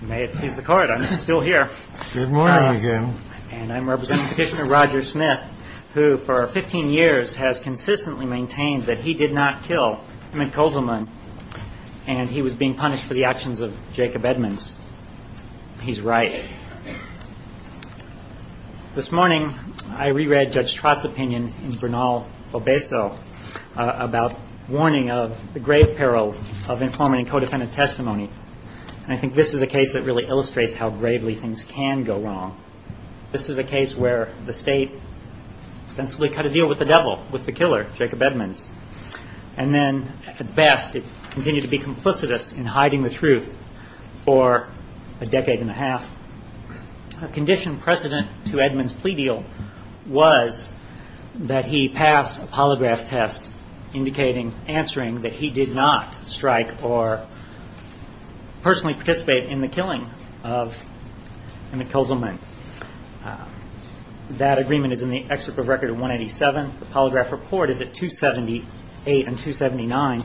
May it please the court, I'm still here. Good morning again. And I'm representing Petitioner Roger Smith, who for 15 years has consistently maintained that he did not kill Emmett Kozelman and he was being punished for the actions of Jacob Edmonds. He's right. This morning, I reread Judge Trott's opinion in Bernal-Obeso about warning of the grave peril of informing co-defendant testimony. And I think this is a case that really illustrates how gravely things can go wrong. This is a case where the state sensibly cut a deal with the devil, with the killer, Jacob Edmonds. And then at best, it continued to be complicitous in hiding the truth for a decade and a half. A condition precedent to Edmonds' plea deal was that he pass a polygraph test indicating, answering that he did not strike or personally participate in the killing of Emmett Kozelman. That agreement is in the excerpt of Record 187. The polygraph report is at 278 and 279.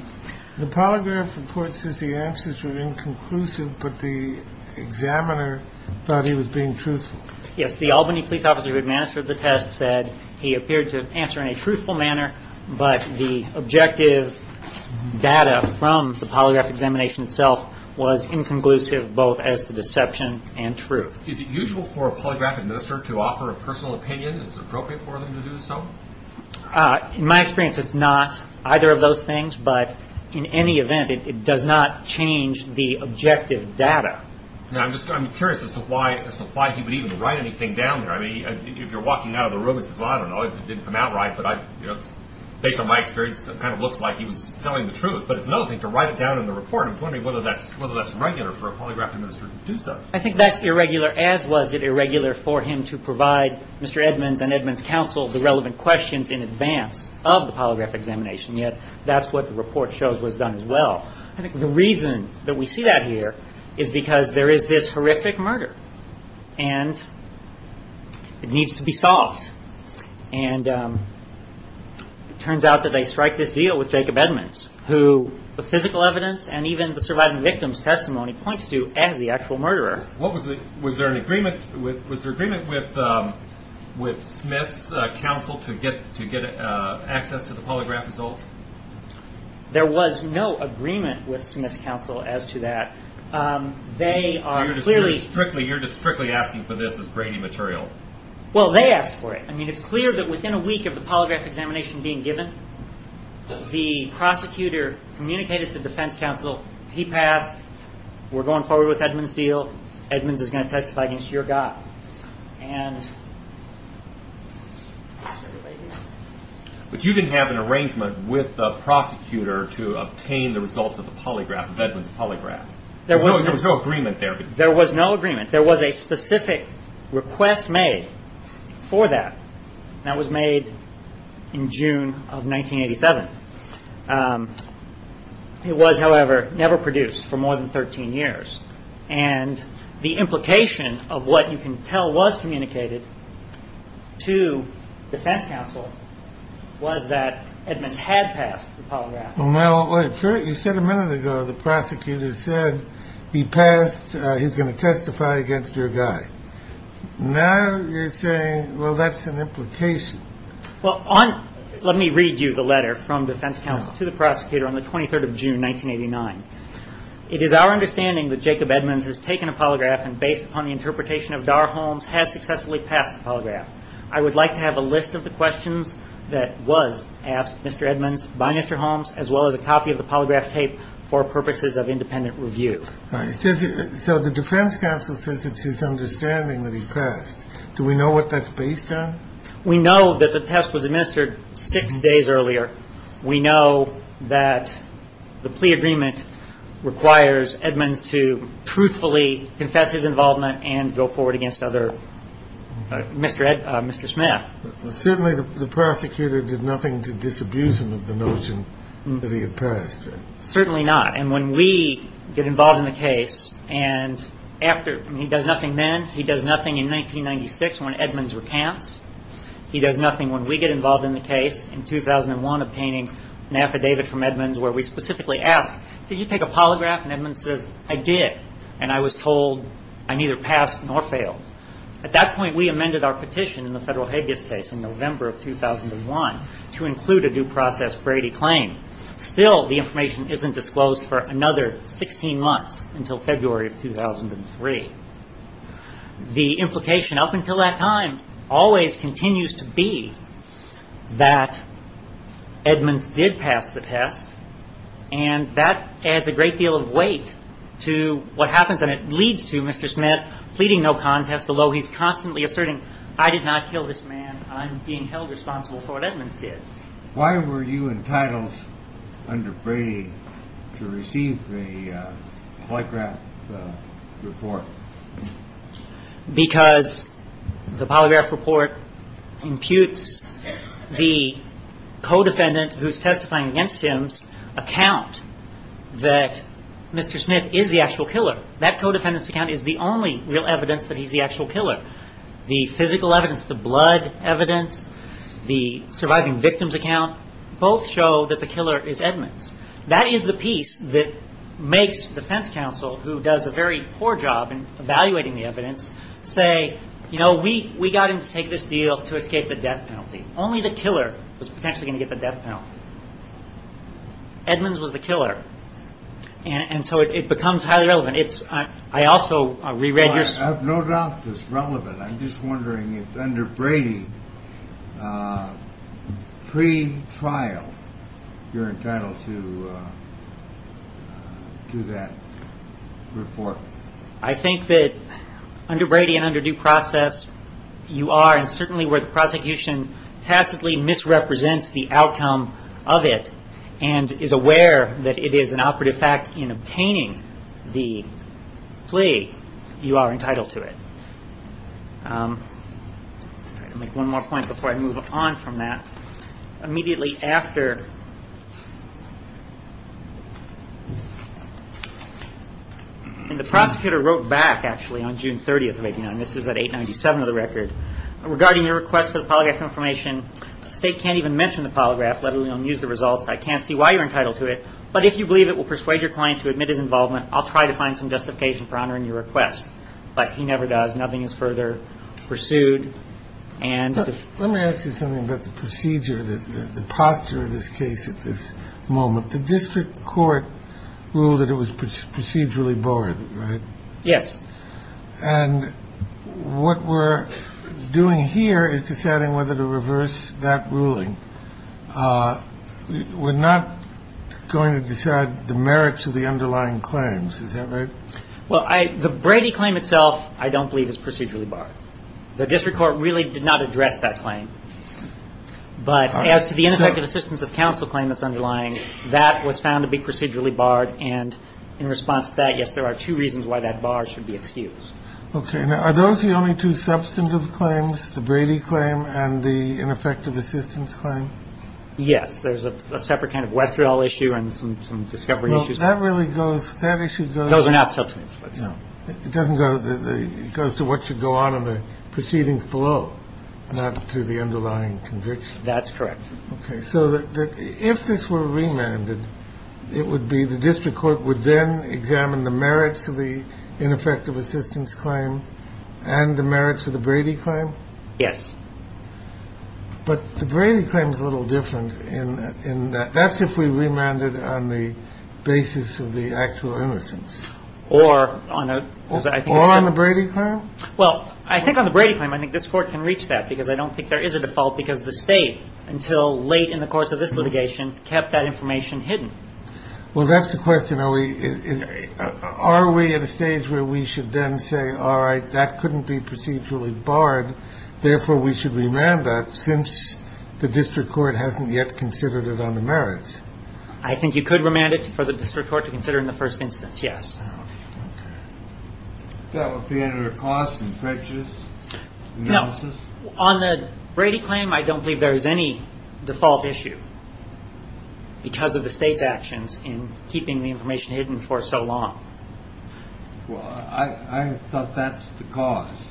The polygraph report says the answers were inconclusive, but the examiner thought he was being truthful. Yes, the Albany police officer who administered the test said he appeared to answer in a truthful manner, but the objective data from the polygraph examination itself was inconclusive, both as the deception and truth. Is it usual for a polygraph administrator to offer a personal opinion? Is it appropriate for them to do so? In my experience, it's not either of those things, but in any event, it does not change the objective data. Now, I'm curious as to why he would even write anything down here. I mean, if you're walking out of the room, he says, well, I don't know, it didn't come out right. But based on my experience, it kind of looks like he was telling the truth. But it's another thing to write it down in the report. I'm wondering whether that's regular for a polygraph administrator to do so. I think that's irregular, as was it irregular for him to provide Mr. Edmonds and Edmonds' counsel the relevant questions in advance of the polygraph examination, yet that's what the report shows was done as well. I think the reason that we see that here is because there is this horrific murder, and it needs to be solved. And it turns out that they strike this deal with Jacob Edmonds, who the physical evidence and even the surviving victim's testimony points to as the actual murderer. Was there an agreement with Smith's counsel to get access to the polygraph results? There was no agreement with Smith's counsel as to that. You're just strictly asking for this as grainy material. Well, they asked for it. I mean, it's clear that within a week of the polygraph examination being given, the prosecutor communicated to defense counsel, he passed, we're going forward with Edmonds' deal, Edmonds is going to testify against your guy. But you didn't have an arrangement with the prosecutor to obtain the results of Edmonds' polygraph. There was no agreement there. There was no agreement. There was a specific request made for that, and that was made in June of 1987. It was, however, never produced for more than 13 years. And the implication of what you can tell was communicated to defense counsel was that Edmonds had passed the polygraph. Well, you said a minute ago the prosecutor said he passed, he's going to testify against your guy. Now you're saying, well, that's an implication. Well, let me read you the letter from defense counsel to the prosecutor on the 23rd of June, 1989. It is our understanding that Jacob Edmonds has taken a polygraph and based upon the interpretation of Darr Holmes has successfully passed the polygraph. I would like to have a list of the questions that was asked Mr. Edmonds by Mr. Holmes, as well as a copy of the polygraph tape for purposes of independent review. So the defense counsel says it's his understanding that he passed. Do we know what that's based on? We know that the test was administered six days earlier. We know that the plea agreement requires Edmonds to truthfully confess his involvement and go forward against Mr. Smith. Certainly the prosecutor did nothing to disabuse him of the notion that he had passed. Certainly not. And when we get involved in the case and after he does nothing then, he does nothing in 1996 when Edmonds recants. He does nothing when we get involved in the case in 2001 obtaining an affidavit from Edmonds where we specifically ask, did you take a polygraph? And Edmonds says, I did. And I was told I neither passed nor failed. At that point we amended our petition in the federal habeas case in November of 2001 to include a due process Brady claim. Still the information isn't disclosed for another 16 months until February of 2003. The implication up until that time always continues to be that Edmonds did pass the test and that adds a great deal of weight to what happens and it leads to Mr. Smith pleading no contest, although he's constantly asserting I did not kill this man. I'm being held responsible for what Edmonds did. Why were you entitled under Brady to receive the polygraph report? Because the polygraph report imputes the co-defendant who's testifying against him's account that Mr. Smith is the actual killer. That co-defendant's account is the only real evidence that he's the actual killer. The physical evidence, the blood evidence, the surviving victim's account, both show that the killer is Edmonds. That is the piece that makes defense counsel, who does a very poor job in evaluating the evidence, say, you know, we got him to take this deal to escape the death penalty. Only the killer was potentially going to get the death penalty. Edmonds was the killer. And so it becomes highly relevant. I have no doubt it's relevant. I'm just wondering if under Brady, pretrial, you're entitled to that report. I think that under Brady and under due process you are, and certainly where the prosecution tacitly misrepresents the outcome of it and is aware that it is an operative fact in obtaining the plea, you are entitled to it. I'll make one more point before I move on from that. Immediately after, and the prosecutor wrote back, actually, on June 30th of 89. This was at 897 of the record. It says, regarding your request for the polygraph information, the State can't even mention the polygraph, let alone use the results. I can't see why you're entitled to it. But if you believe it will persuade your client to admit his involvement, I'll try to find some justification for honoring your request. But he never does. Nothing is further pursued. And let me ask you something about the procedure, the posture of this case at this moment. The district court ruled that it was procedurally borne, right? Yes. And what we're doing here is deciding whether to reverse that ruling. We're not going to decide the merits of the underlying claims. Is that right? Well, the Brady claim itself I don't believe is procedurally barred. The district court really did not address that claim. But as to the ineffective assistance of counsel claim that's underlying, that was found to be procedurally barred. And in response to that, yes, there are two reasons why that bar should be excused. Okay. Now, are those the only two substantive claims, the Brady claim and the ineffective assistance claim? Yes. There's a separate kind of Westerl issue and some discovery issues. Well, that really goes, that issue goes. Those are not substantive. It doesn't go, it goes to what should go on in the proceedings below, not to the underlying conviction. That's correct. Okay. So if this were remanded, it would be the district court would then examine the merits of the ineffective assistance claim and the merits of the Brady claim? Yes. But the Brady claim is a little different in that that's if we remanded on the basis of the actual innocence. Or on a, I think. Or on the Brady claim? Well, I think on the Brady claim, I think this Court can reach that because I don't think there is a default because the State, until late in the course of this litigation, kept that information hidden. Well, that's the question. Are we at a stage where we should then say, all right, that couldn't be procedurally barred. Therefore, we should remand that since the district court hasn't yet considered it on the merits. I think you could remand it for the district court to consider in the first instance, yes. That would be under the cause and prejudice analysis? No. On the Brady claim, I don't believe there is any default issue because of the State's actions in keeping the information hidden for so long. Well, I thought that's the cause.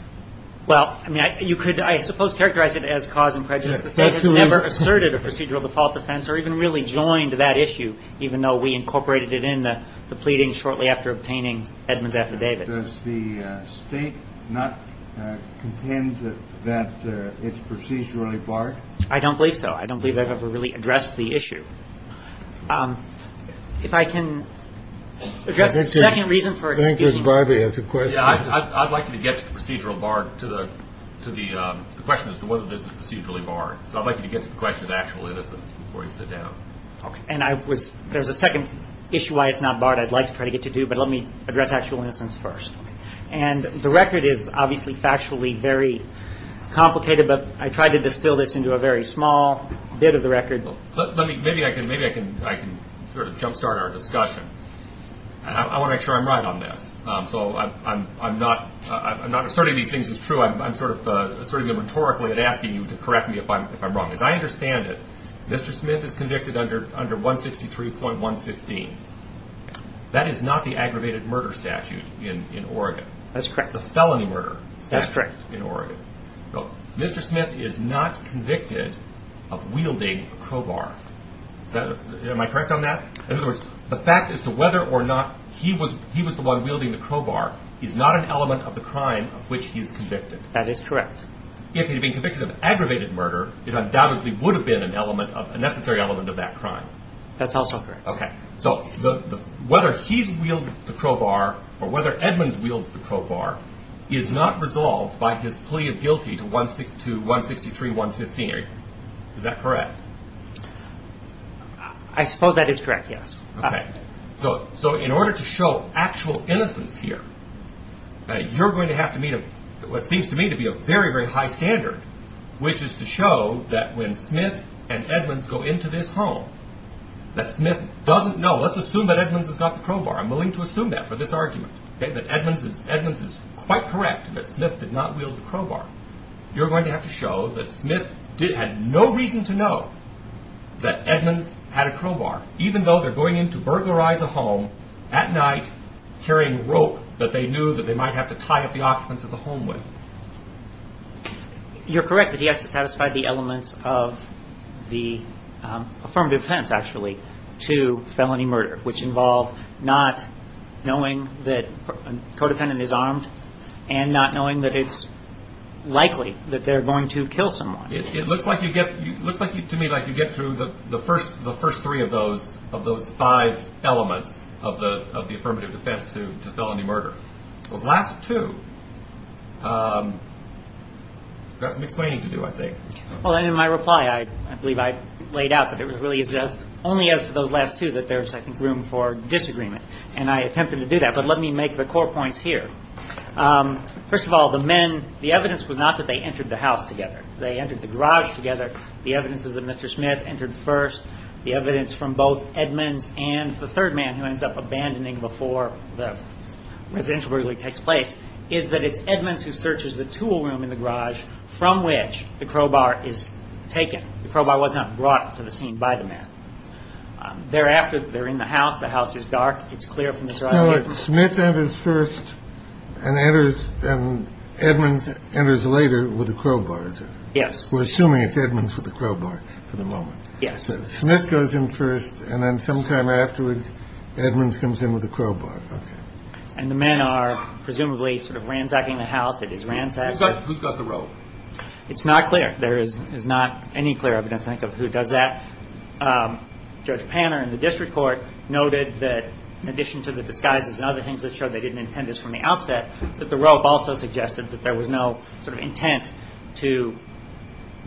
Well, I mean, you could, I suppose, characterize it as cause and prejudice. The State has never asserted a procedural default defense or even really joined that issue, even though we incorporated it in the pleading shortly after obtaining Edmund's affidavit. Does the State not contend that it's procedurally barred? I don't believe so. I don't believe they've ever really addressed the issue. If I can address the second reason for excusing you. I'd like you to get to the procedural bar, to the question as to whether this is procedurally barred. So I'd like you to get to the question of actual innocence before you sit down. Okay. And I was, there's a second issue why it's not barred I'd like to try to get to, but let me address actual innocence first. Okay. And the record is obviously factually very complicated, but I tried to distill this into a very small bit of the record. Let me, maybe I can, maybe I can, I can sort of jumpstart our discussion. I want to make sure I'm right on this. So I'm not, I'm not asserting these things as true. I'm sort of, asserting them rhetorically and asking you to correct me if I'm wrong. As I understand it, Mr. Smith is convicted under, under 163.115. That is not the aggravated murder statute in Oregon. That's correct. The felony murder statute in Oregon. Mr. Smith is not convicted of wielding a crowbar. Am I correct on that? In other words, the fact as to whether or not he was, he was the one wielding the crowbar is not an element of the crime of which he is convicted. That is correct. If he had been convicted of aggravated murder, it undoubtedly would have been an element of, a necessary element of that crime. That's also correct. Okay. So whether he's wielded the crowbar or whether Edmunds wields the crowbar is not resolved by his plea of guilty to 163.115. Is that correct? I suppose that is correct, yes. Okay. So in order to show actual innocence here, you're going to have to meet what seems to me to be a very, very high standard, which is to show that when Smith and Edmunds go into this home, that Smith doesn't know. Let's assume that Edmunds has got the crowbar. I'm willing to assume that for this argument, that Edmunds is, Edmunds is quite correct that Smith did not wield the crowbar. You're going to have to show that Smith had no reason to know that Edmunds had a crowbar, even though they're going in to burglarize a home at night, carrying rope that they knew that they might have to tie up the occupants of the home with. You're correct that he has to satisfy the elements of the affirmative defense, actually, to felony murder, which involve not knowing that a co-defendant is armed and not knowing that it's likely that they're going to kill someone. It looks like you get, to me, like you get through the first three of those, of those five elements of the affirmative defense to felony murder. Those last two have some explaining to do, I think. Well, in my reply, I believe I laid out that it really is only as to those last two that there's, I think, room for disagreement. And I attempted to do that. But let me make the core points here. First of all, the men, the evidence was not that they entered the house together. They entered the garage together. The evidence is that Mr. Smith entered first. The evidence from both Edmunds and the third man, who ends up abandoning before the residential burglary takes place, is that it's Edmunds who searches the tool room in the garage from which the crowbar is taken. The crowbar was not brought to the scene by the man. Thereafter, they're in the house. The house is dark. It's clear from this right here. So Smith enters first and Edmunds enters later with a crowbar, is it? Yes. We're assuming it's Edmunds with a crowbar for the moment. Yes. So Smith goes in first, and then sometime afterwards, Edmunds comes in with a crowbar. And the men are presumably sort of ransacking the house. It is ransacked. Who's got the rope? It's not clear. There is not any clear evidence, I think, of who does that. Judge Panner in the district court noted that in addition to the disguises and other things that showed they didn't intend this from the outset, that the rope also suggested that there was no sort of intent to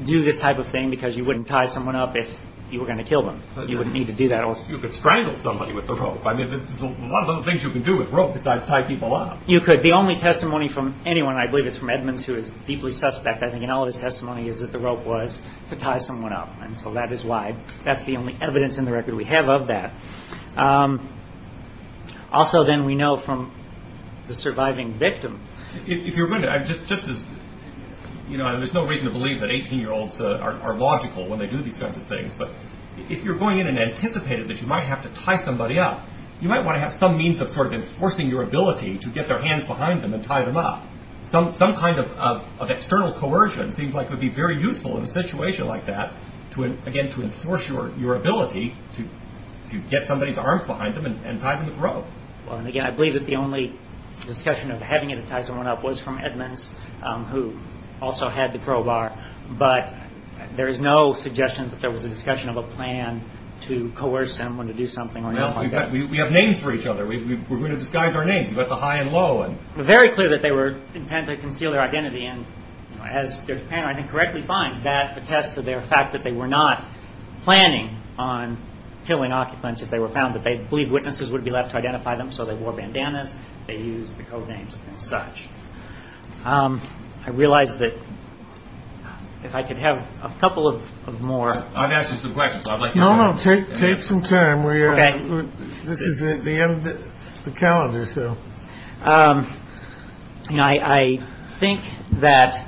do this type of thing because you wouldn't tie someone up if you were going to kill them. You wouldn't need to do that. You could strangle somebody with the rope. I mean, there's a lot of other things you can do with rope besides tie people up. You could. The only testimony from anyone, and I believe it's from Edmunds who is deeply suspect, I think, in all of his testimony is that the rope was to tie someone up. And so that is why that's the only evidence in the record we have of that. Also, then, we know from the surviving victim. If you're going to, just as, you know, there's no reason to believe that 18-year-olds are logical when they do these kinds of things, but if you're going in and anticipating that you might have to tie somebody up, you might want to have some means of sort of enforcing your ability to get their hands behind them and tie them up. Some kind of external coercion seems like it would be very useful in a situation like that, again, to enforce your ability to get somebody's arms behind them and tie them with rope. Well, and again, I believe that the only discussion of having to tie someone up was from Edmunds, who also had the crowbar. But there is no suggestion that there was a discussion of a plan to coerce someone to do something or anything like that. Well, we have names for each other. We're going to disguise our names. You've got the high and low. Very clear that they were intent to conceal their identity, and as Judge Panner, I think, correctly finds, that attests to their fact that they were not planning on killing occupants if they were found, that they believed witnesses would be left to identify them, so they wore bandanas, they used the codenames and such. I realize that if I could have a couple of more. I've asked you some questions. No, no. Take some time. This is the end of the calendar, so. I think that,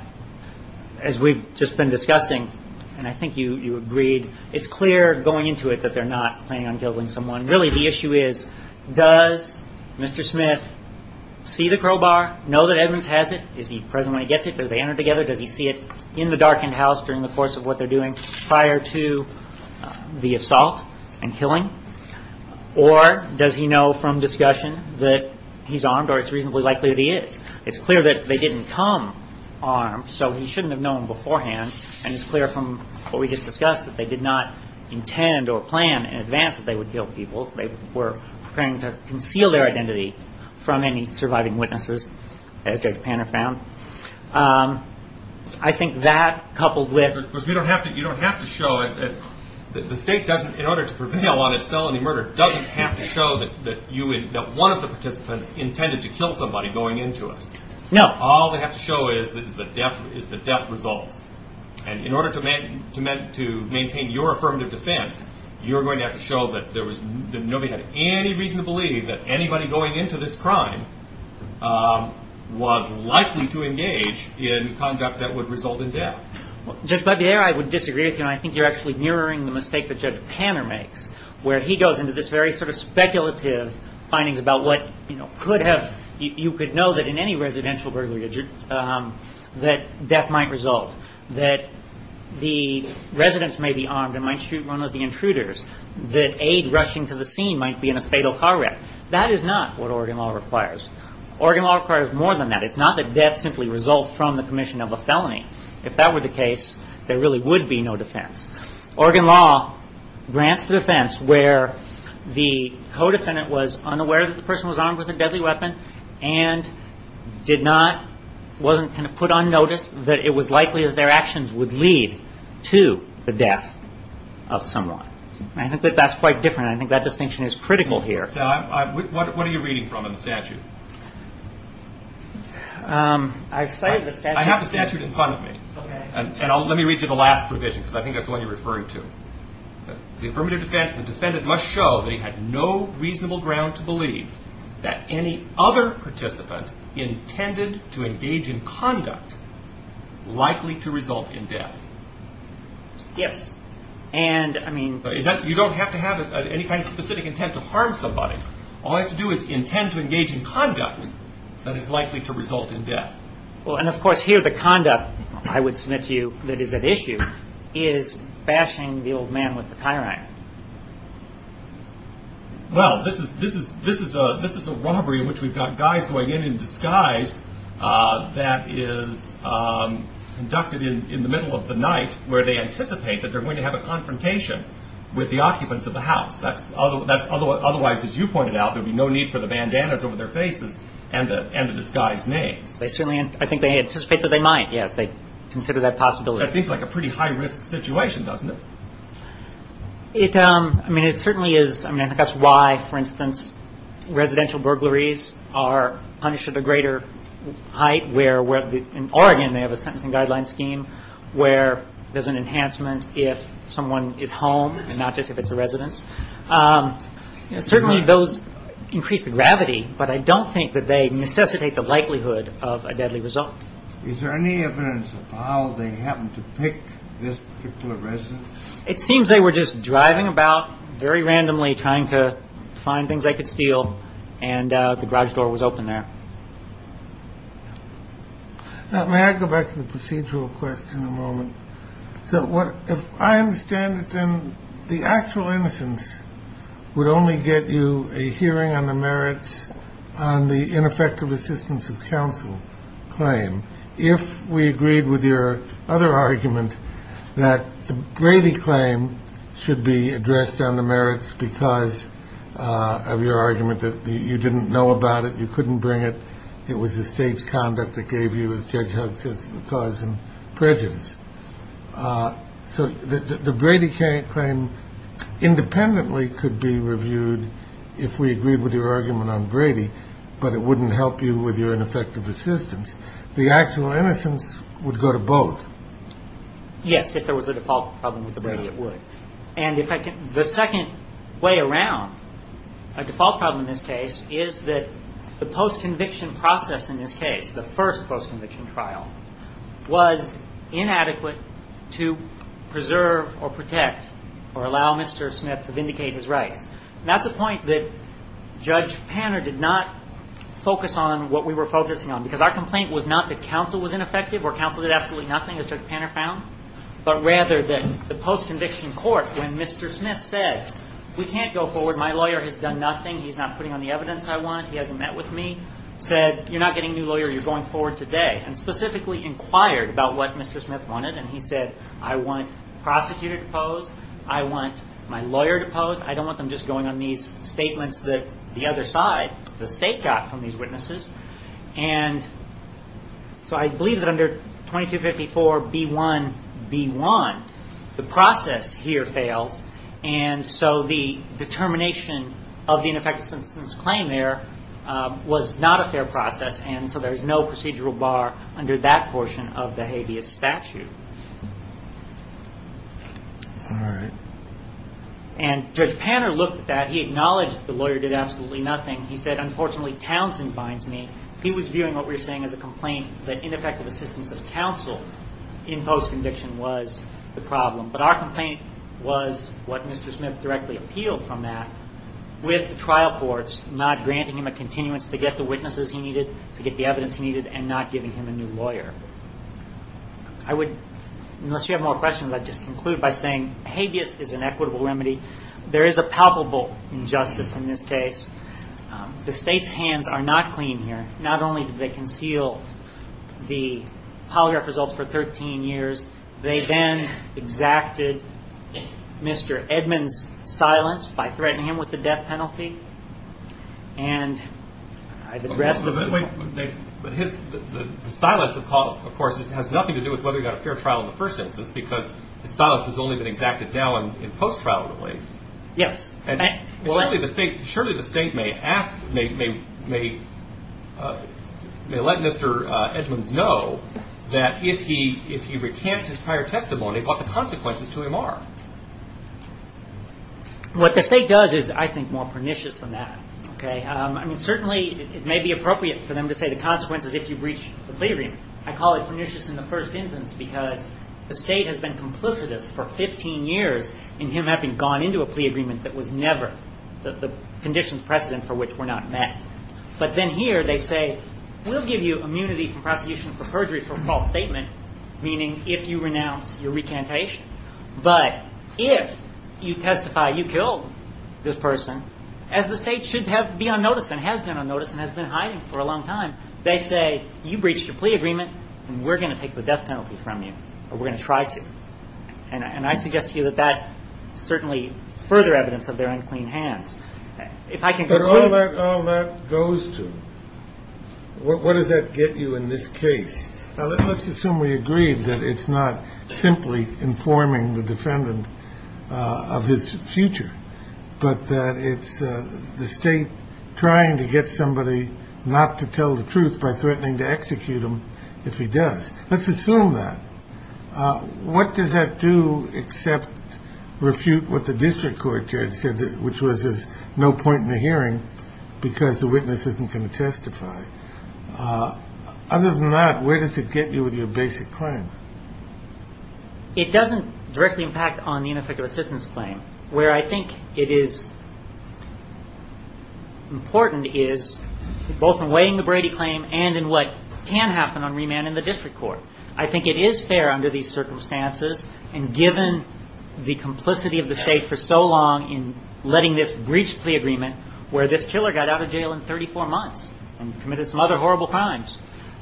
as we've just been discussing, and I think you agreed, it's clear going into it that they're not planning on killing someone. Really, the issue is, does Mr. Smith see the crowbar, know that Evans has it, is he present when he gets it, does he see it in the darkened house during the course of what they're doing, prior to the assault and killing? Or does he know from discussion that he's armed, or it's reasonably likely that he is? It's clear that they didn't come armed, so he shouldn't have known beforehand, and it's clear from what we just discussed that they did not intend or plan in advance that they would kill people. They were preparing to conceal their identity from any surviving witnesses, as Judge Panner found. I think that, coupled with- Because you don't have to show that the state, in order to prevail on its felony murder, doesn't have to show that one of the participants intended to kill somebody going into it. No. All they have to show is the death results. And in order to maintain your affirmative defense, you're going to have to show that nobody had any reason to believe that anybody going into this crime was likely to engage in conduct that would result in death. Judge Budbeier, I would disagree with you, and I think you're actually mirroring the mistake that Judge Panner makes, where he goes into this very speculative findings about what could have- that death might result, that the residents may be armed and might shoot one of the intruders, that aid rushing to the scene might be in a fatal car wreck. That is not what Oregon law requires. Oregon law requires more than that. It's not that death simply results from the commission of a felony. If that were the case, there really would be no defense. Oregon law grants the defense where the co-defendant was unaware that the person was armed with a deadly weapon and did not-wasn't going to put on notice that it was likely that their actions would lead to the death of someone. I think that that's quite different, and I think that distinction is critical here. Now, what are you reading from in the statute? I cite the statute- I have the statute in front of me. And let me read you the last provision, because I think that's the one you're referring to. The affirmative defense, the defendant must show that he had no reasonable ground to believe that any other participant intended to engage in conduct likely to result in death. Yes. And, I mean- You don't have to have any kind of specific intent to harm somebody. All you have to do is intend to engage in conduct that is likely to result in death. Well, and, of course, here the conduct, I would submit to you, that is at issue is bashing the old man with a tie rack. Well, this is a robbery in which we've got guys going in in disguise that is conducted in the middle of the night where they anticipate that they're going to have a confrontation with the occupants of the house. Otherwise, as you pointed out, there would be no need for the bandanas over their faces and the disguised names. I think they anticipate that they might, yes. They consider that possibility. That seems like a pretty high-risk situation, doesn't it? I mean, it certainly is. I mean, I think that's why, for instance, residential burglaries are punished at a greater height, where in Oregon they have a sentencing guideline scheme where there's an enhancement if someone is home and not just if it's a residence. Certainly those increase the gravity, but I don't think that they necessitate the likelihood of a deadly result. Is there any evidence of how they happened to pick this particular residence? It seems they were just driving about very randomly, trying to find things they could steal, and the garage door was open there. Now, may I go back to the procedural question in a moment? So if I understand it, then the actual innocence would only get you a hearing on the merits on the ineffective assistance of counsel claim if we agreed with your other argument that the Brady claim should be addressed on the merits because of your argument that you didn't know about it, you couldn't bring it, it was the state's conduct that gave you, as Judge Huggs says, the cause and prejudice. So the Brady claim independently could be reviewed if we agreed with your argument on Brady, but it wouldn't help you with your ineffective assistance. The actual innocence would go to both. Yes, if there was a default problem with the Brady, it would. And the second way around a default problem in this case is that the post-conviction process in this case, the first post-conviction trial, was inadequate to preserve or protect or allow Mr. Smith to vindicate his rights. And that's a point that Judge Panner did not focus on what we were focusing on because our complaint was not that counsel was ineffective or counsel did absolutely nothing, as Judge Panner found, but rather that the post-conviction court, when Mr. Smith said, we can't go forward, my lawyer has done nothing, he's not putting on the evidence I want, he hasn't met with me, said, you're not getting a new lawyer, you're going forward today, and specifically inquired about what Mr. Smith wanted, and he said, I want the prosecutor to pose, I want my lawyer to pose, I don't want them just going on these statements that the other side, the state, got from these witnesses. And so I believe that under 2254B1B1, the process here fails, and so the determination of the ineffective assistance claim there was not a fair process, and so there's no procedural bar under that portion of the habeas statute. And Judge Panner looked at that. He acknowledged the lawyer did absolutely nothing. He said, unfortunately, Townsend binds me. He was viewing what we were saying as a complaint that ineffective assistance of counsel in post-conviction was the problem. But our complaint was what Mr. Smith directly appealed from that, with the trial courts not granting him a continuance to get the witnesses he needed, to get the evidence he needed, and not giving him a new lawyer. I would, unless you have more questions, I'd just conclude by saying, habeas is an equitable remedy. There is a palpable injustice in this case. The state's hands are not clean here. Not only did they conceal the polygraph results for 13 years, they then exacted Mr. Edmonds' silence by threatening him with the death penalty. And I've addressed the point. But his silence, of course, has nothing to do with whether he got a fair trial in the first instance, because his silence has only been exacted now in post-trial relief. Yes. Surely the state may let Mr. Edmonds know that if he recants his prior testimony, what the consequences to him are. What the state does is, I think, more pernicious than that. Certainly it may be appropriate for them to say the consequences if you breach the plea agreement. I call it pernicious in the first instance because the state has been complicitous for 15 years in him having gone into a plea agreement that was never the conditions precedent for which were not met. But then here they say, we'll give you immunity from prosecution for perjury for a false statement, meaning if you renounce your recantation. But if you testify you killed this person, as the state should be on notice and has been on notice and has been hiding for a long time, they say, you breached your plea agreement and we're going to take the death penalty from you, or we're going to try to. And I suggest to you that that certainly further evidence of their unclean hands. If I can go through. But all that goes to, what does that get you in this case? Let's assume we agree that it's not simply informing the defendant of his future, but that it's the state trying to get somebody not to tell the truth by threatening to execute him if he does. Let's assume that. What does that do except refute what the district court judge said, which was there's no point in the hearing because the witness isn't going to testify. Other than that, where does it get you with your basic claim? It doesn't directly impact on the ineffective assistance claim where I think it is. Important is both in weighing the Brady claim and in what can happen on remand in the district court. I think it is fair under these circumstances. And given the complicity of the state for so long in letting this breach of the agreement where this killer got out of jail in 34 months and committed some other horrible crimes,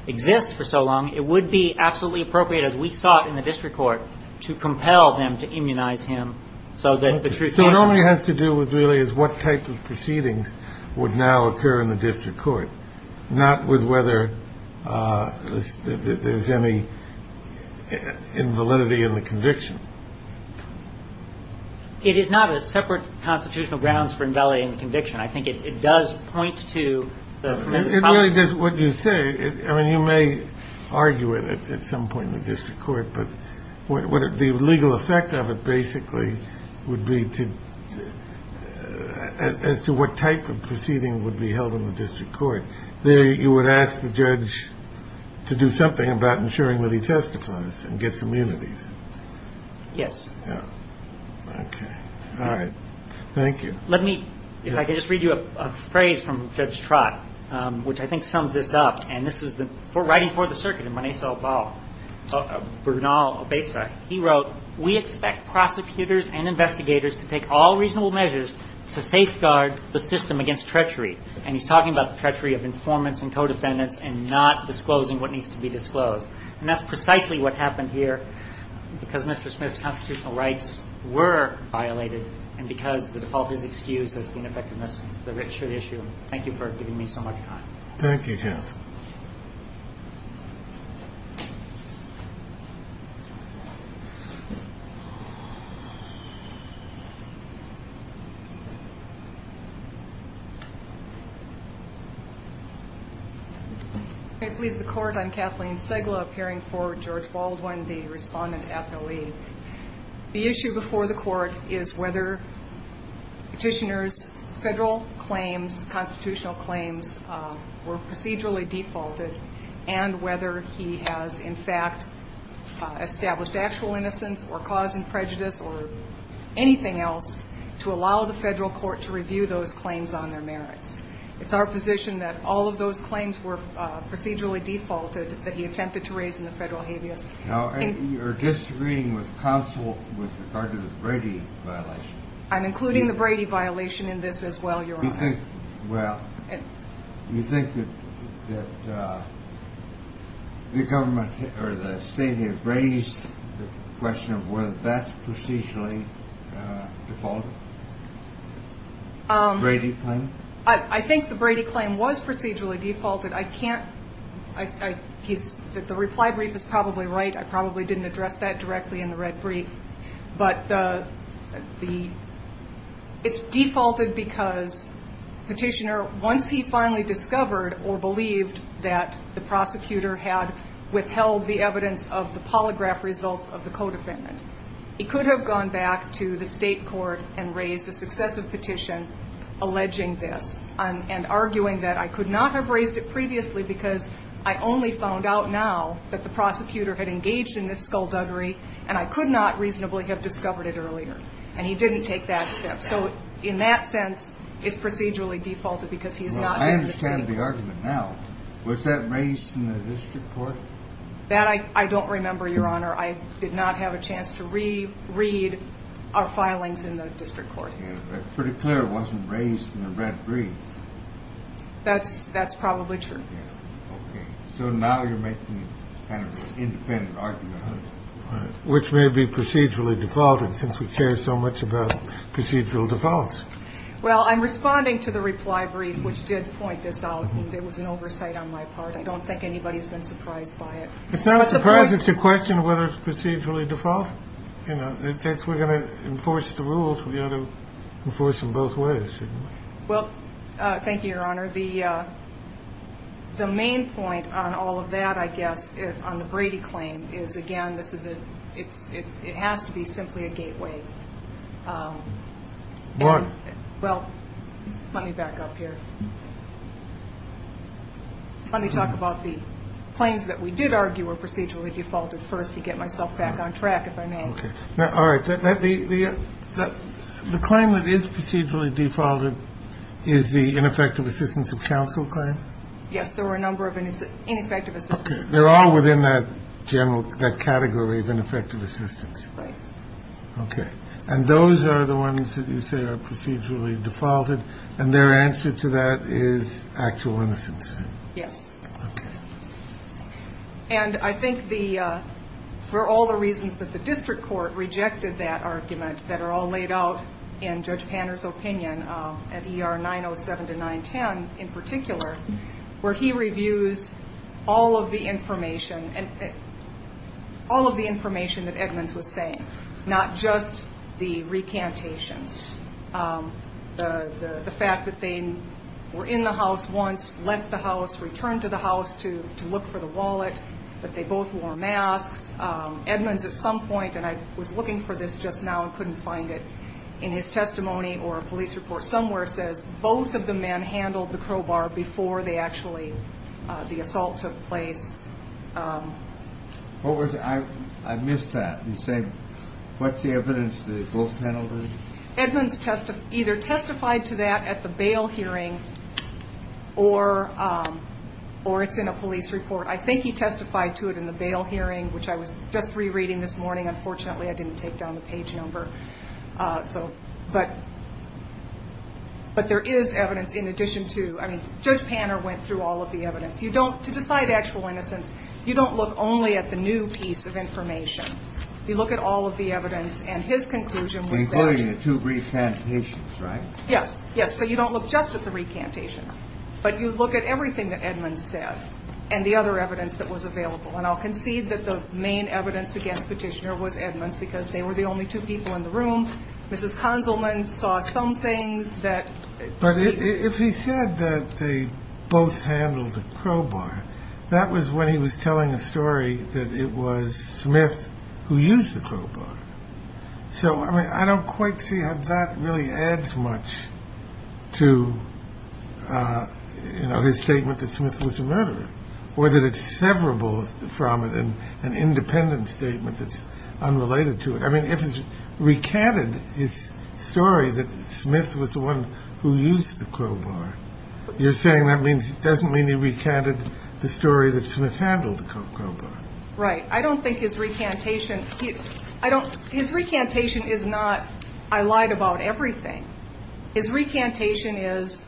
exists for so long, it would be absolutely appropriate as we saw it in the district court to compel them to immunize him so that the truth. So it only has to do with really is what type of proceedings would now occur in the district court, not with whether there's any invalidity in the conviction. It is not a separate constitutional grounds for invalid in conviction. I think it does point to what you say. I mean, you may argue it at some point in the district court. But the legal effect of it basically would be as to what type of proceeding would be held in the district court. You would ask the judge to do something about ensuring that he testifies and gets immunity. Yes. All right. Thank you. Let me if I can just read you a phrase from Judge Trott, which I think sums this up. And this is the writing for the circuit and money. So Brunel, he wrote, we expect prosecutors and investigators to take all reasonable measures to safeguard the system against treachery. And he's talking about the treachery of informants and co-defendants and not disclosing what needs to be disclosed. And that's precisely what happened here because Mr. Smith's constitutional rights were violated. And because the default is excused as the ineffectiveness, the rich issue. Thank you for giving me so much time. Thank you. Please, the court. I'm Kathleen Segla appearing for George Baldwin, the respondent. The issue before the court is whether petitioners, federal claims, constitutional claims were procedurally defaulted and whether he has, in fact, established actual innocence or cause and prejudice or anything else to allow the federal court to review those claims on their merits. It's our position that all of those claims were procedurally defaulted that he attempted to raise in the federal habeas. Now, you're disagreeing with counsel with regard to the Brady violation. I'm including the Brady violation in this as well. Well, you think that the government or the state have raised the question of whether that's procedurally defaulted? Brady claim? I think the Brady claim was procedurally defaulted. The reply brief is probably right. I probably didn't address that directly in the red brief. But it's defaulted because petitioner, once he finally discovered or believed that the prosecutor had withheld the evidence of the polygraph results of the codefendant, he could have gone back to the state court and raised a successive petition alleging this and arguing that I could not have raised it previously because I only found out now that the prosecutor had engaged in this skullduggery and I could not reasonably have discovered it earlier. And he didn't take that step. So in that sense, it's procedurally defaulted because he's not in the state court. Well, I understand the argument now. Was that raised in the district court? That I don't remember, Your Honor. I did not have a chance to reread our filings in the district court. But it's pretty clear it wasn't raised in the red brief. That's probably true. Okay. So now you're making kind of an independent argument. Which may be procedurally defaulted since we care so much about procedural defaults. Well, I'm responding to the reply brief, which did point this out. There was an oversight on my part. I don't think anybody's been surprised by it. It's not a surprise. It's a question of whether it's procedurally defaulted. You know, since we're going to enforce the rules, we ought to enforce them both ways. Well, thank you, Your Honor. The main point on all of that, I guess, on the Brady claim, is, again, this is a – it has to be simply a gateway. Why? Well, let me back up here. Let me talk about the claims that we did argue were procedurally defaulted first to get myself back on track, if I may. Okay. All right. The claim that is procedurally defaulted is the ineffective assistance of counsel claim? Yes. There were a number of ineffective assistance. Okay. They're all within that general – that category of ineffective assistance. Right. Okay. And those are the ones that you say are procedurally defaulted. And their answer to that is actual innocence. Yes. Okay. And I think the – for all the reasons that the district court rejected that argument that are all laid out in Judge Panner's opinion at ER 907-910 in particular, where he reviews all of the information that Edmonds was saying, not just the recantations, the fact that they were in the house once, left the house, returned to the house to look for the wallet, that they both wore masks. Edmonds at some point – and I was looking for this just now and couldn't find it in his testimony or a police report somewhere – says both of the men handled the crowbar before they actually – the assault took place. What was – I missed that. You said what's the evidence that they both handled it? Edmonds either testified to that at the bail hearing or it's in a police report. I think he testified to it in the bail hearing, which I was just rereading this morning. Unfortunately, I didn't take down the page number. So – but there is evidence in addition to – I mean, Judge Panner went through all of the evidence. You don't – to decide actual innocence, you don't look only at the new piece of information. You look at all of the evidence, and his conclusion was that – Including the two recantations, right? Yes. Yes, but you don't look just at the recantations. But you look at everything that Edmonds said and the other evidence that was available. And I'll concede that the main evidence against Petitioner was Edmonds because they were the only two people in the room. Mrs. Conzelman saw some things that – But if he said that they both handled the crowbar, that was when he was telling a story that it was Smith who used the crowbar. So, I mean, I don't quite see how that really adds much to, you know, his statement that Smith was a murderer or that it's severable from it and an independent statement that's unrelated to it. I mean, if he recanted his story that Smith was the one who used the crowbar, you're saying that doesn't mean he recanted the story that Smith handled the crowbar. Right. I don't think his recantation – His recantation is not, I lied about everything. His recantation is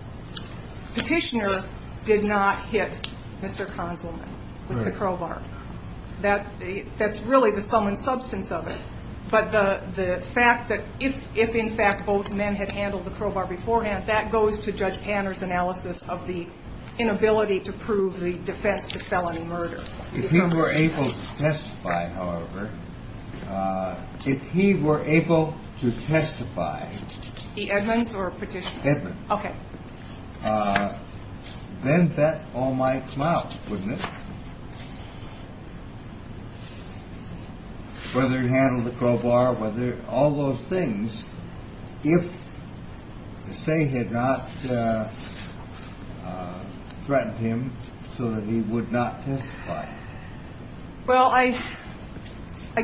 Petitioner did not hit Mr. Conzelman with the crowbar. That's really the sum and substance of it. But the fact that if, in fact, both men had handled the crowbar beforehand, that goes to Judge Panner's analysis of the inability to prove the defense to felony murder. If he were able to testify, however, if he were able to testify – The Edmonds or Petitioner? Edmonds. Okay. Then that all might come out, wouldn't it? Whether he handled the crowbar, all those things, if the State had not threatened him so that he would not testify. Well, I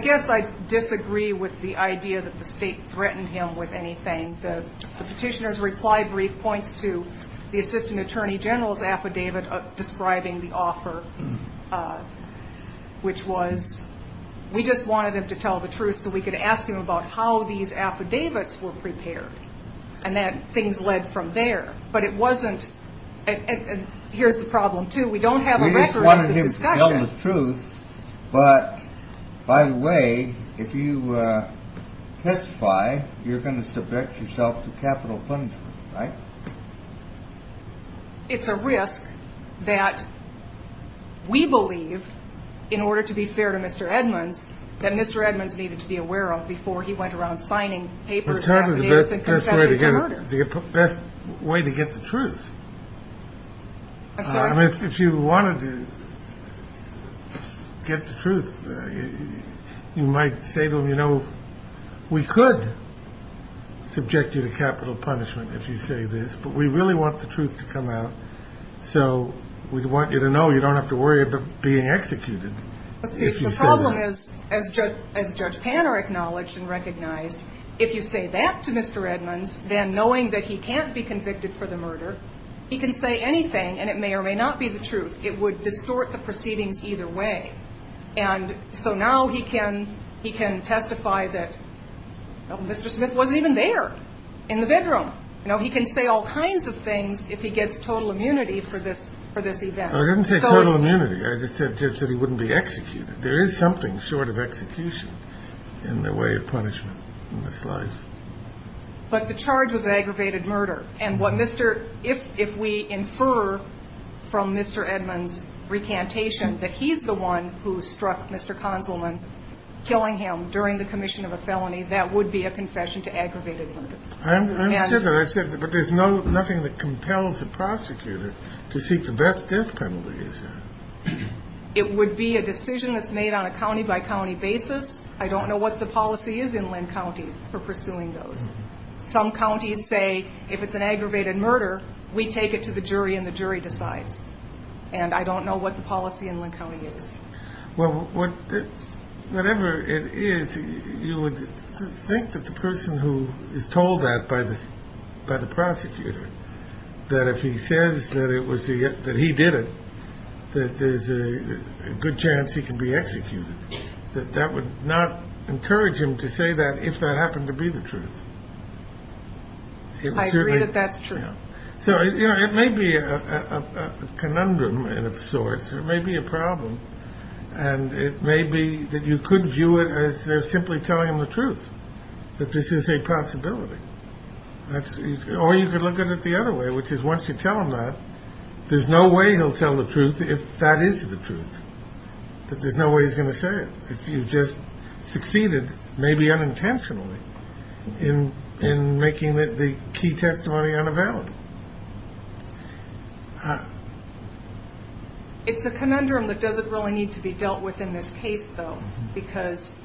guess I disagree with the idea that the State threatened him with anything. The Petitioner's reply brief points to the Assistant Attorney General's affidavit describing the offer, which was, we just wanted him to tell the truth so we could ask him about how these affidavits were prepared, and that things led from there. But it wasn't – and here's the problem, too. We don't have a record of the discussion. We just wanted him to tell the truth. But, by the way, if you testify, you're going to subject yourself to capital punishment, right? It's a risk that we believe, in order to be fair to Mr. Edmonds, that Mr. Edmonds needed to be aware of before he went around signing papers, affidavits, and contending for murder. The best way to get the truth. I'm sorry? If you wanted to get the truth, you might say to him, You know, we could subject you to capital punishment if you say this, but we really want the truth to come out, so we want you to know you don't have to worry about being executed if you say that. The problem is, as Judge Panner acknowledged and recognized, if you say that to Mr. Edmonds, then knowing that he can't be convicted for the murder, he can say anything, and it may or may not be the truth. It would distort the proceedings either way. And so now he can testify that Mr. Smith wasn't even there in the bedroom. You know, he can say all kinds of things if he gets total immunity for this event. I didn't say total immunity. I just said he wouldn't be executed. There is something short of execution in the way of punishment in this life. But the charge was aggravated murder, And what Mr. If we infer from Mr. Edmonds' recantation that he's the one who struck Mr. Kahnselman killing him during the commission of a felony, that would be a confession to aggravated murder. I understand that. But there's nothing that compels a prosecutor to seek the death penalty. It would be a decision that's made on a county-by-county basis. I don't know what the policy is in Linn County for pursuing those. Some counties say if it's an aggravated murder, we take it to the jury and the jury decides. And I don't know what the policy in Linn County is. Well, whatever it is, you would think that the person who is told that by the prosecutor, that if he says that he did it, that there's a good chance he can be executed, that that would not encourage him to say that if that happened to be the truth. I agree that that's true. So, you know, it may be a conundrum of sorts. It may be a problem. And it may be that you could view it as simply telling him the truth, that this is a possibility. Or you could look at it the other way, which is once you tell him that, there's no way he'll tell the truth if that is the truth, that there's no way he's going to say it. You've just succeeded, maybe unintentionally, in making the key testimony unavailable. It's a conundrum that doesn't really need to be dealt with in this case, though, because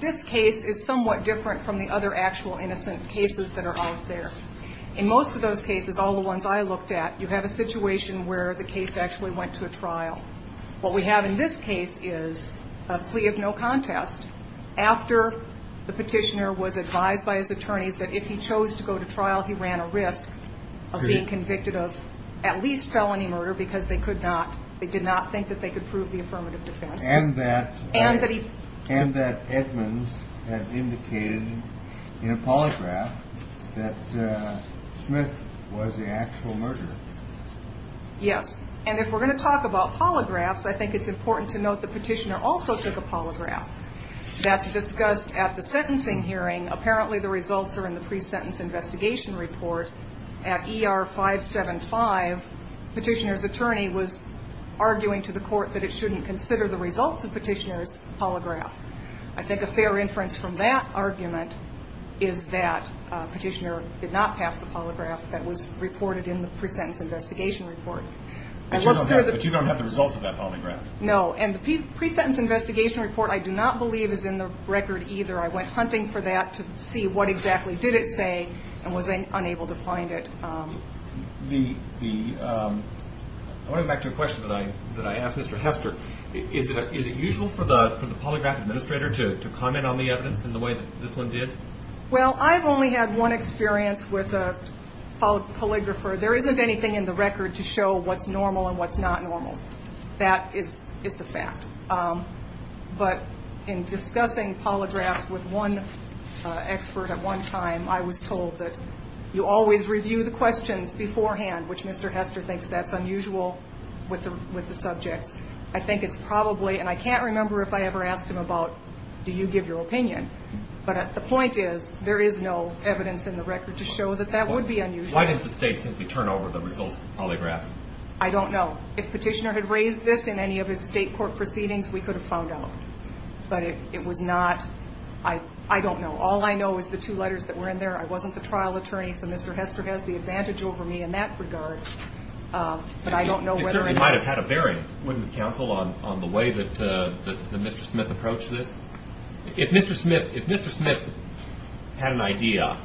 this case is somewhat different from the other actual innocent cases that are out there. In most of those cases, all the ones I looked at, you have a situation where the case actually went to a trial. What we have in this case is a plea of no contest. After the petitioner was advised by his attorneys that if he chose to go to trial, he ran a risk of being convicted of at least felony murder because they could not, they did not think that they could prove the affirmative defense. And that Edmonds had indicated in a polygraph that Smith was the actual murderer. Yes, and if we're going to talk about polygraphs, I think it's important to note the petitioner also took a polygraph. That's discussed at the sentencing hearing. Apparently the results are in the pre-sentence investigation report. At ER 575, petitioner's attorney was arguing to the court that it shouldn't consider the results of petitioner's polygraph. I think a fair inference from that argument is that petitioner did not pass the polygraph that was reported in the pre-sentence investigation report. But you don't have the results of that polygraph? No, and the pre-sentence investigation report I do not believe is in the record either. I went hunting for that to see what exactly did it say and was unable to find it. I want to go back to a question that I asked Mr. Hester. Is it usual for the polygraph administrator to comment on the evidence in the way that this one did? Well, I've only had one experience with a polygrapher. There isn't anything in the record to show what's normal and what's not normal. That is the fact. But in discussing polygraphs with one expert at one time, I was told that you always review the questions beforehand, which Mr. Hester thinks that's unusual with the subjects. I think it's probably, and I can't remember if I ever asked him about do you give your opinion, but the point is there is no evidence in the record to show that that would be unusual. Why didn't the state simply turn over the results of the polygraph? I don't know. If petitioner had raised this in any of his state court proceedings, we could have found out. But it was not. I don't know. All I know is the two letters that were in there. I wasn't the trial attorney, so Mr. Hester has the advantage over me in that regard. But I don't know whether or not. It might have had a bearing, wouldn't it, counsel, on the way that Mr. Smith approached this? If Mr. Smith had an idea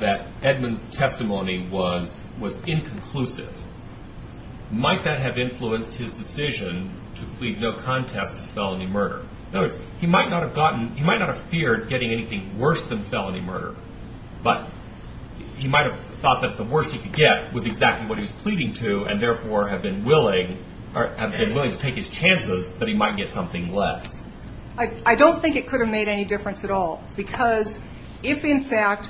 that Edmund's testimony was inconclusive, might that have influenced his decision to plead no contest to felony murder? In other words, he might not have feared getting anything worse than felony murder, but he might have thought that the worst he could get was exactly what he was pleading to and therefore have been willing to take his chances that he might get something less. I don't think it could have made any difference at all because if, in fact,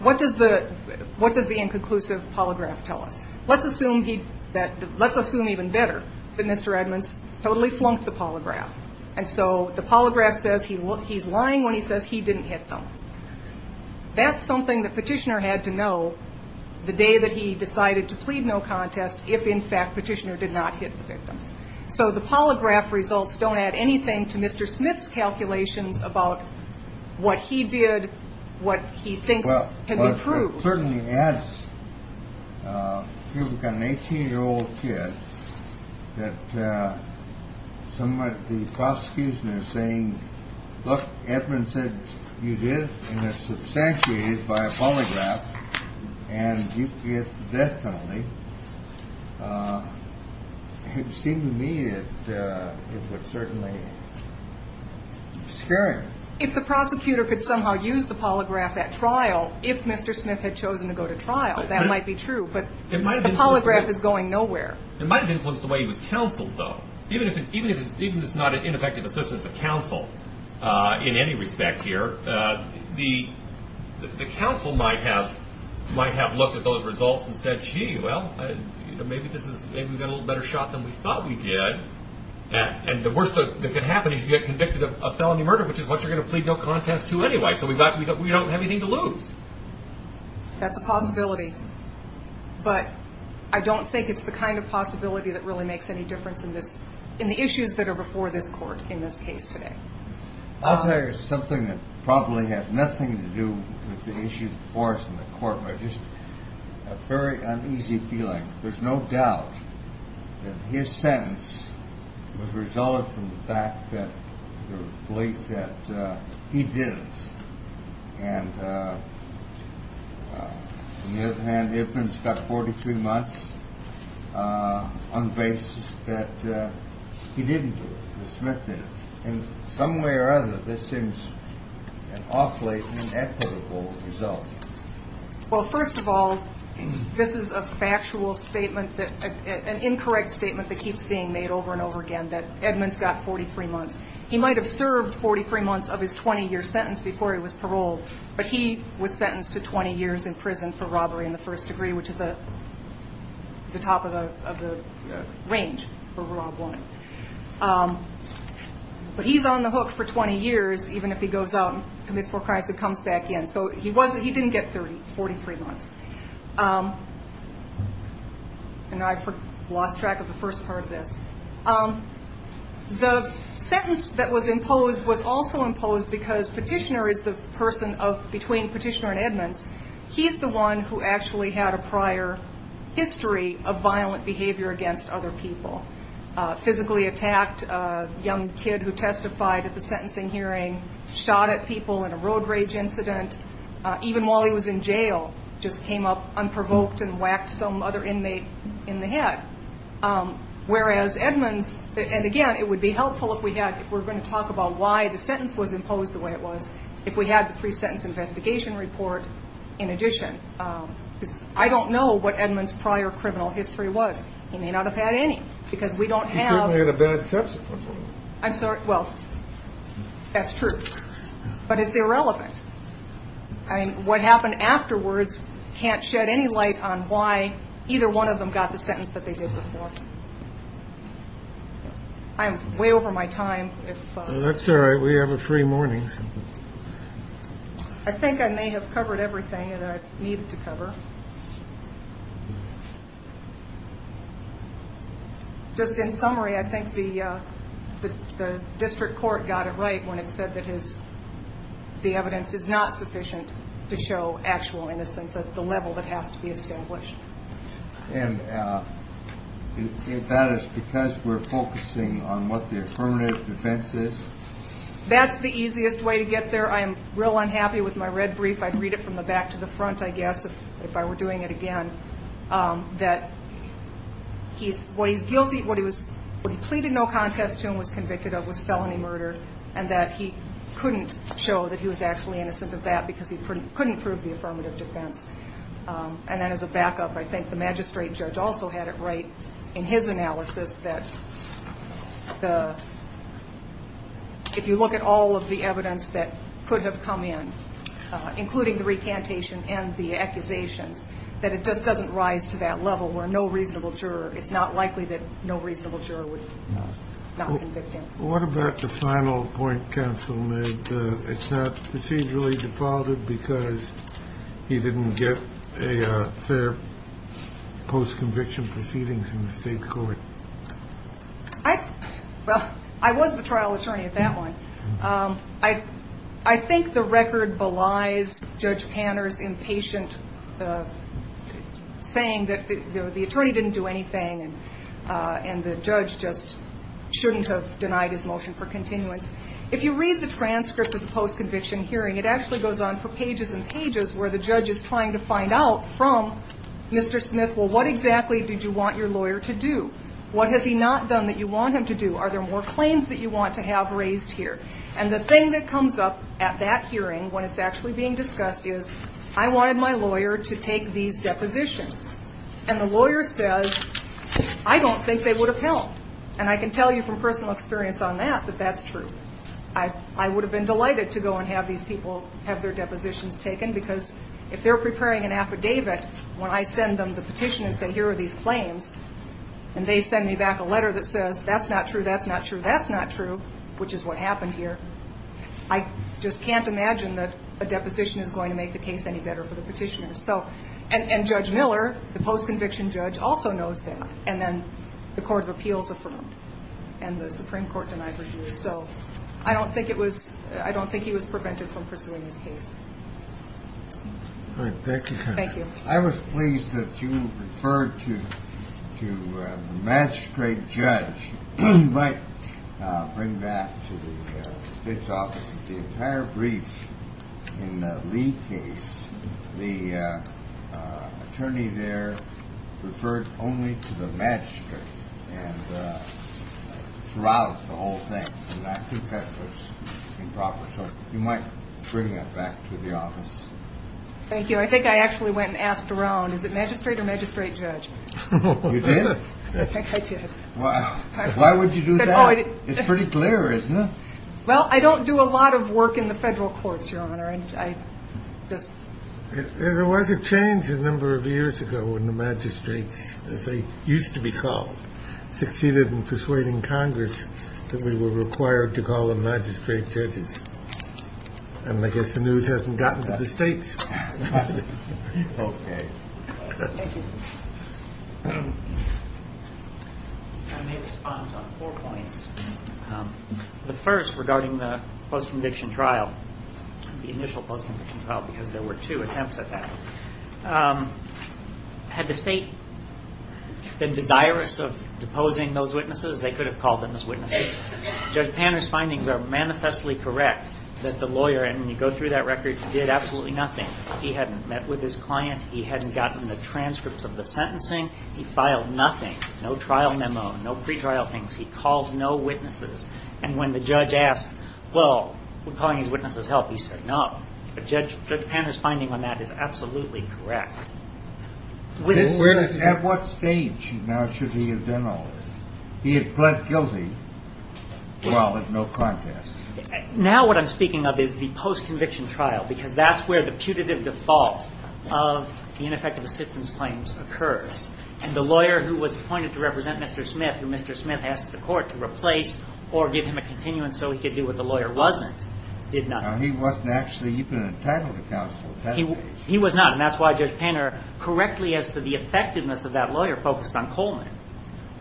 what does the inconclusive polygraph tell us? Let's assume even better that Mr. Edmunds totally flunked the polygraph. And so the polygraph says he's lying when he says he didn't hit them. That's something the petitioner had to know the day that he decided to plead no contest if, in fact, the petitioner did not hit the victim. So the polygraph results don't add anything to Mr. Smith's calculations about what he did, what he thinks can be proved. It certainly adds, if you've got an 18-year-old kid, that somebody at the prosecution is saying, look, Edmunds said you did and it's substantiated by a polygraph and you get the death penalty. It seemed to me that it would certainly scare him. If the prosecutor could somehow use the polygraph at trial, if Mr. Smith had chosen to go to trial, that might be true. But the polygraph is going nowhere. It might have influenced the way he was counseled, though. Even if it's not an ineffective assistance of counsel in any respect here, the counsel might have looked at those results and said, gee, well, maybe we got a little better shot than we thought we did. And the worst that could happen is you get convicted of a felony murder, which is what you're going to plead no contest to anyway, so we don't have anything to lose. That's a possibility, but I don't think it's the kind of possibility that really makes any difference in the issues that are before this court in this case today. I'll tell you something that probably has nothing to do with the issue before us in the court, but I just have a very uneasy feeling. There's no doubt that his sentence was resulted from the belief that he did it. And on the other hand, Edmonds got 43 months on the basis that he didn't do it, that Smith did it. In some way or other, this seems an awfully inequitable result. Well, first of all, this is a factual statement, an incorrect statement that keeps being made over and over again, that Edmonds got 43 months. He might have served 43 months of his 20-year sentence before he was paroled, but he was sentenced to 20 years in prison for robbery in the first degree, which is the top of the range for a robbed woman. But he's on the hook for 20 years, even if he goes out and commits more crimes and comes back in. So he didn't get 43 months. And I lost track of the first part of this. The sentence that was imposed was also imposed because Petitioner is the person between Petitioner and Edmonds. He's the one who actually had a prior history of violent behavior against other people, physically attacked a young kid who testified at the sentencing hearing, shot at people in a road rage incident, even while he was in jail, just came up unprovoked and whacked some other inmate in the head. Whereas Edmonds, and again, it would be helpful if we had, if we're going to talk about why the sentence was imposed the way it was, if we had the pre-sentence investigation report in addition. Because I don't know what Edmonds' prior criminal history was. He may not have had any, because we don't have. He certainly had a bad subsequent. I'm sorry, well, that's true. But it's irrelevant. I mean, what happened afterwards can't shed any light on why either one of them got the sentence that they did before. I'm way over my time. That's all right. We have a free morning. I think I may have covered everything that I needed to cover. Just in summary, I think the district court got it right when it said that the evidence is not sufficient to show actual innocence at the level that has to be established. And that is because we're focusing on what the affirmative defense is? That's the easiest way to get there. I'm real unhappy with my red brief. I'd read it from the back to the front, I guess, if I were doing it again, that what he pleaded no contest to and was convicted of was felony murder, and that he couldn't show that he was actually innocent of that because he couldn't prove the affirmative defense. And then as a backup, I think the magistrate judge also had it right in his analysis that if you look at all of the evidence that could have come in, including the recantation and the accusations, that it just doesn't rise to that level where no reasonable juror, it's not likely that no reasonable juror would not convict him. What about the final point, Counsel, that it's not procedurally defaulted because he didn't get a fair post-conviction proceedings in the state court? Well, I was the trial attorney at that one. I think the record belies Judge Panner's impatient saying that the attorney didn't do anything and the judge just shouldn't have denied his motion for continuance. If you read the transcript of the post-conviction hearing, it actually goes on for pages and pages where the judge is trying to find out from Mr. Smith, well, what exactly did you want your lawyer to do? What has he not done that you want him to do? Are there more claims that you want to have raised here? And the thing that comes up at that hearing when it's actually being discussed is, I wanted my lawyer to take these depositions. And the lawyer says, I don't think they would have helped. And I can tell you from personal experience on that that that's true. I would have been delighted to go and have these people have their depositions taken because if they're preparing an affidavit, when I send them the petition and say, here are these claims, and they send me back a letter that says, that's not true, that's not true, that's not true, which is what happened here, I just can't imagine that a deposition is going to make the case any better for the petitioner. And Judge Miller, the post-conviction judge, also knows that. And then the Court of Appeals affirmed. And the Supreme Court denied review. So I don't think he was prevented from pursuing his case. Thank you, counsel. Thank you. I was pleased that you referred to the magistrate judge. You might bring that to the state's office. The entire brief in the Lee case, the attorney there referred only to the magistrate throughout the whole thing. And I think that was improper. So you might bring that back to the office. Thank you. I think I actually went and asked around, is it magistrate or magistrate judge? You did? I think I did. Why would you do that? It's pretty clear, isn't it? Well, I don't do a lot of work in the federal courts, Your Honor. There was a change a number of years ago when the magistrates, as they used to be called, succeeded in persuading Congress that we were required to call them magistrate judges. I guess the news hasn't gotten to the states. Okay. I may respond on four points. The first regarding the post-conviction trial, the initial post-conviction trial, because there were two attempts at that. Had the state been desirous of deposing those witnesses, they could have called them as witnesses. Judge Panner's findings are manifestly correct that the lawyer, and when you go through that record, did absolutely nothing. He hadn't met with his client. He hadn't gotten the transcripts of the sentencing. He filed nothing, no trial memo, no pretrial things. He called no witnesses. And when the judge asked, well, we're calling these witnesses help, he said no. But Judge Panner's finding on that is absolutely correct. At what stage now should he have done all this? He had pled guilty, well, with no contest. Now what I'm speaking of is the post-conviction trial, because that's where the putative default of the ineffective assistance claims occurs. And the lawyer who was appointed to represent Mr. Smith, who Mr. Smith asked the court to replace or give him a continuance so he could do what the lawyer wasn't, did nothing. Now, he wasn't actually even entitled to counsel at that stage. He was not. And that's why Judge Panner, correctly as to the effectiveness of that lawyer, focused on Coleman.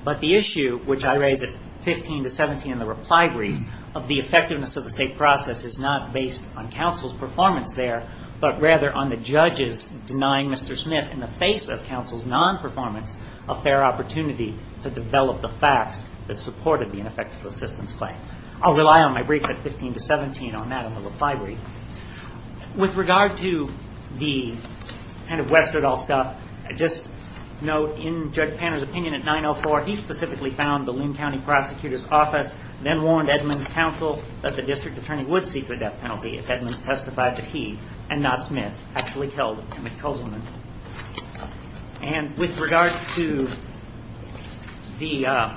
But the issue, which I raised at 15 to 17 in the reply brief, of the effectiveness of the state process is not based on counsel's performance there, but rather on the judges denying Mr. Smith, in the face of counsel's non-performance, a fair opportunity to develop the facts that supported the ineffective assistance claim. I'll rely on my brief at 15 to 17 on that in the reply brief. With regard to the kind of Westerdahl stuff, just note in Judge Panner's opinion at 904, he specifically found the Linn County Prosecutor's Office then warned Edmonds' counsel that the district attorney would seek the death penalty if Edmonds testified that he, and not Smith, actually killed Emmett Coleman. And with regard to the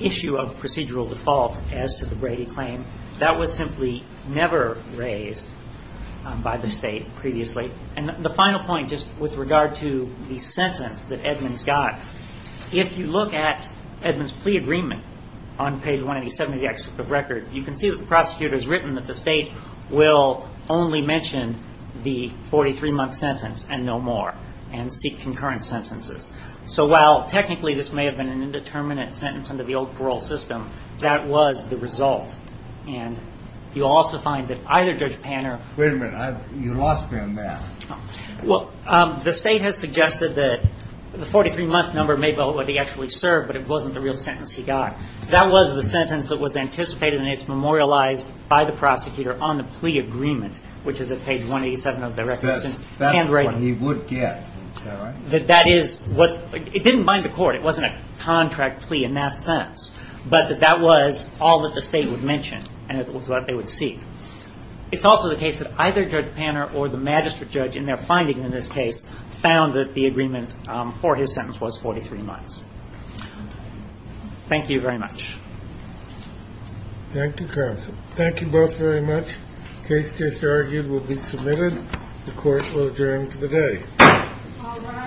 issue of procedural default as to the Brady claim, that was simply never raised by the state previously. And the final point, just with regard to the sentence that Edmonds got, if you look at Edmonds' plea agreement on page 187 of the exit of record, you can see that the prosecutor has written that the state will only mention the 43-month sentence and no more, and seek concurrent sentences. So while technically this may have been an indeterminate sentence under the old parole system, that was the result. And you also find that either Judge Panner – Wait a minute. You lost me on that. Well, the state has suggested that the 43-month number may be what he actually served, but it wasn't the real sentence he got. That was the sentence that was anticipated, and it's memorialized by the prosecutor on the plea agreement, which is at page 187 of the record. That's what he would get, is that right? That is what – it didn't bind the court. It wasn't a contract plea in that sense, but that that was all that the state would mention, and it was what they would seek. It's also the case that either Judge Panner or the magistrate judge in their finding in this case found that the agreement for his sentence was 43 months. Thank you very much. Thank you, counsel. Thank you both very much. The case just argued will be submitted. The court will adjourn for the day.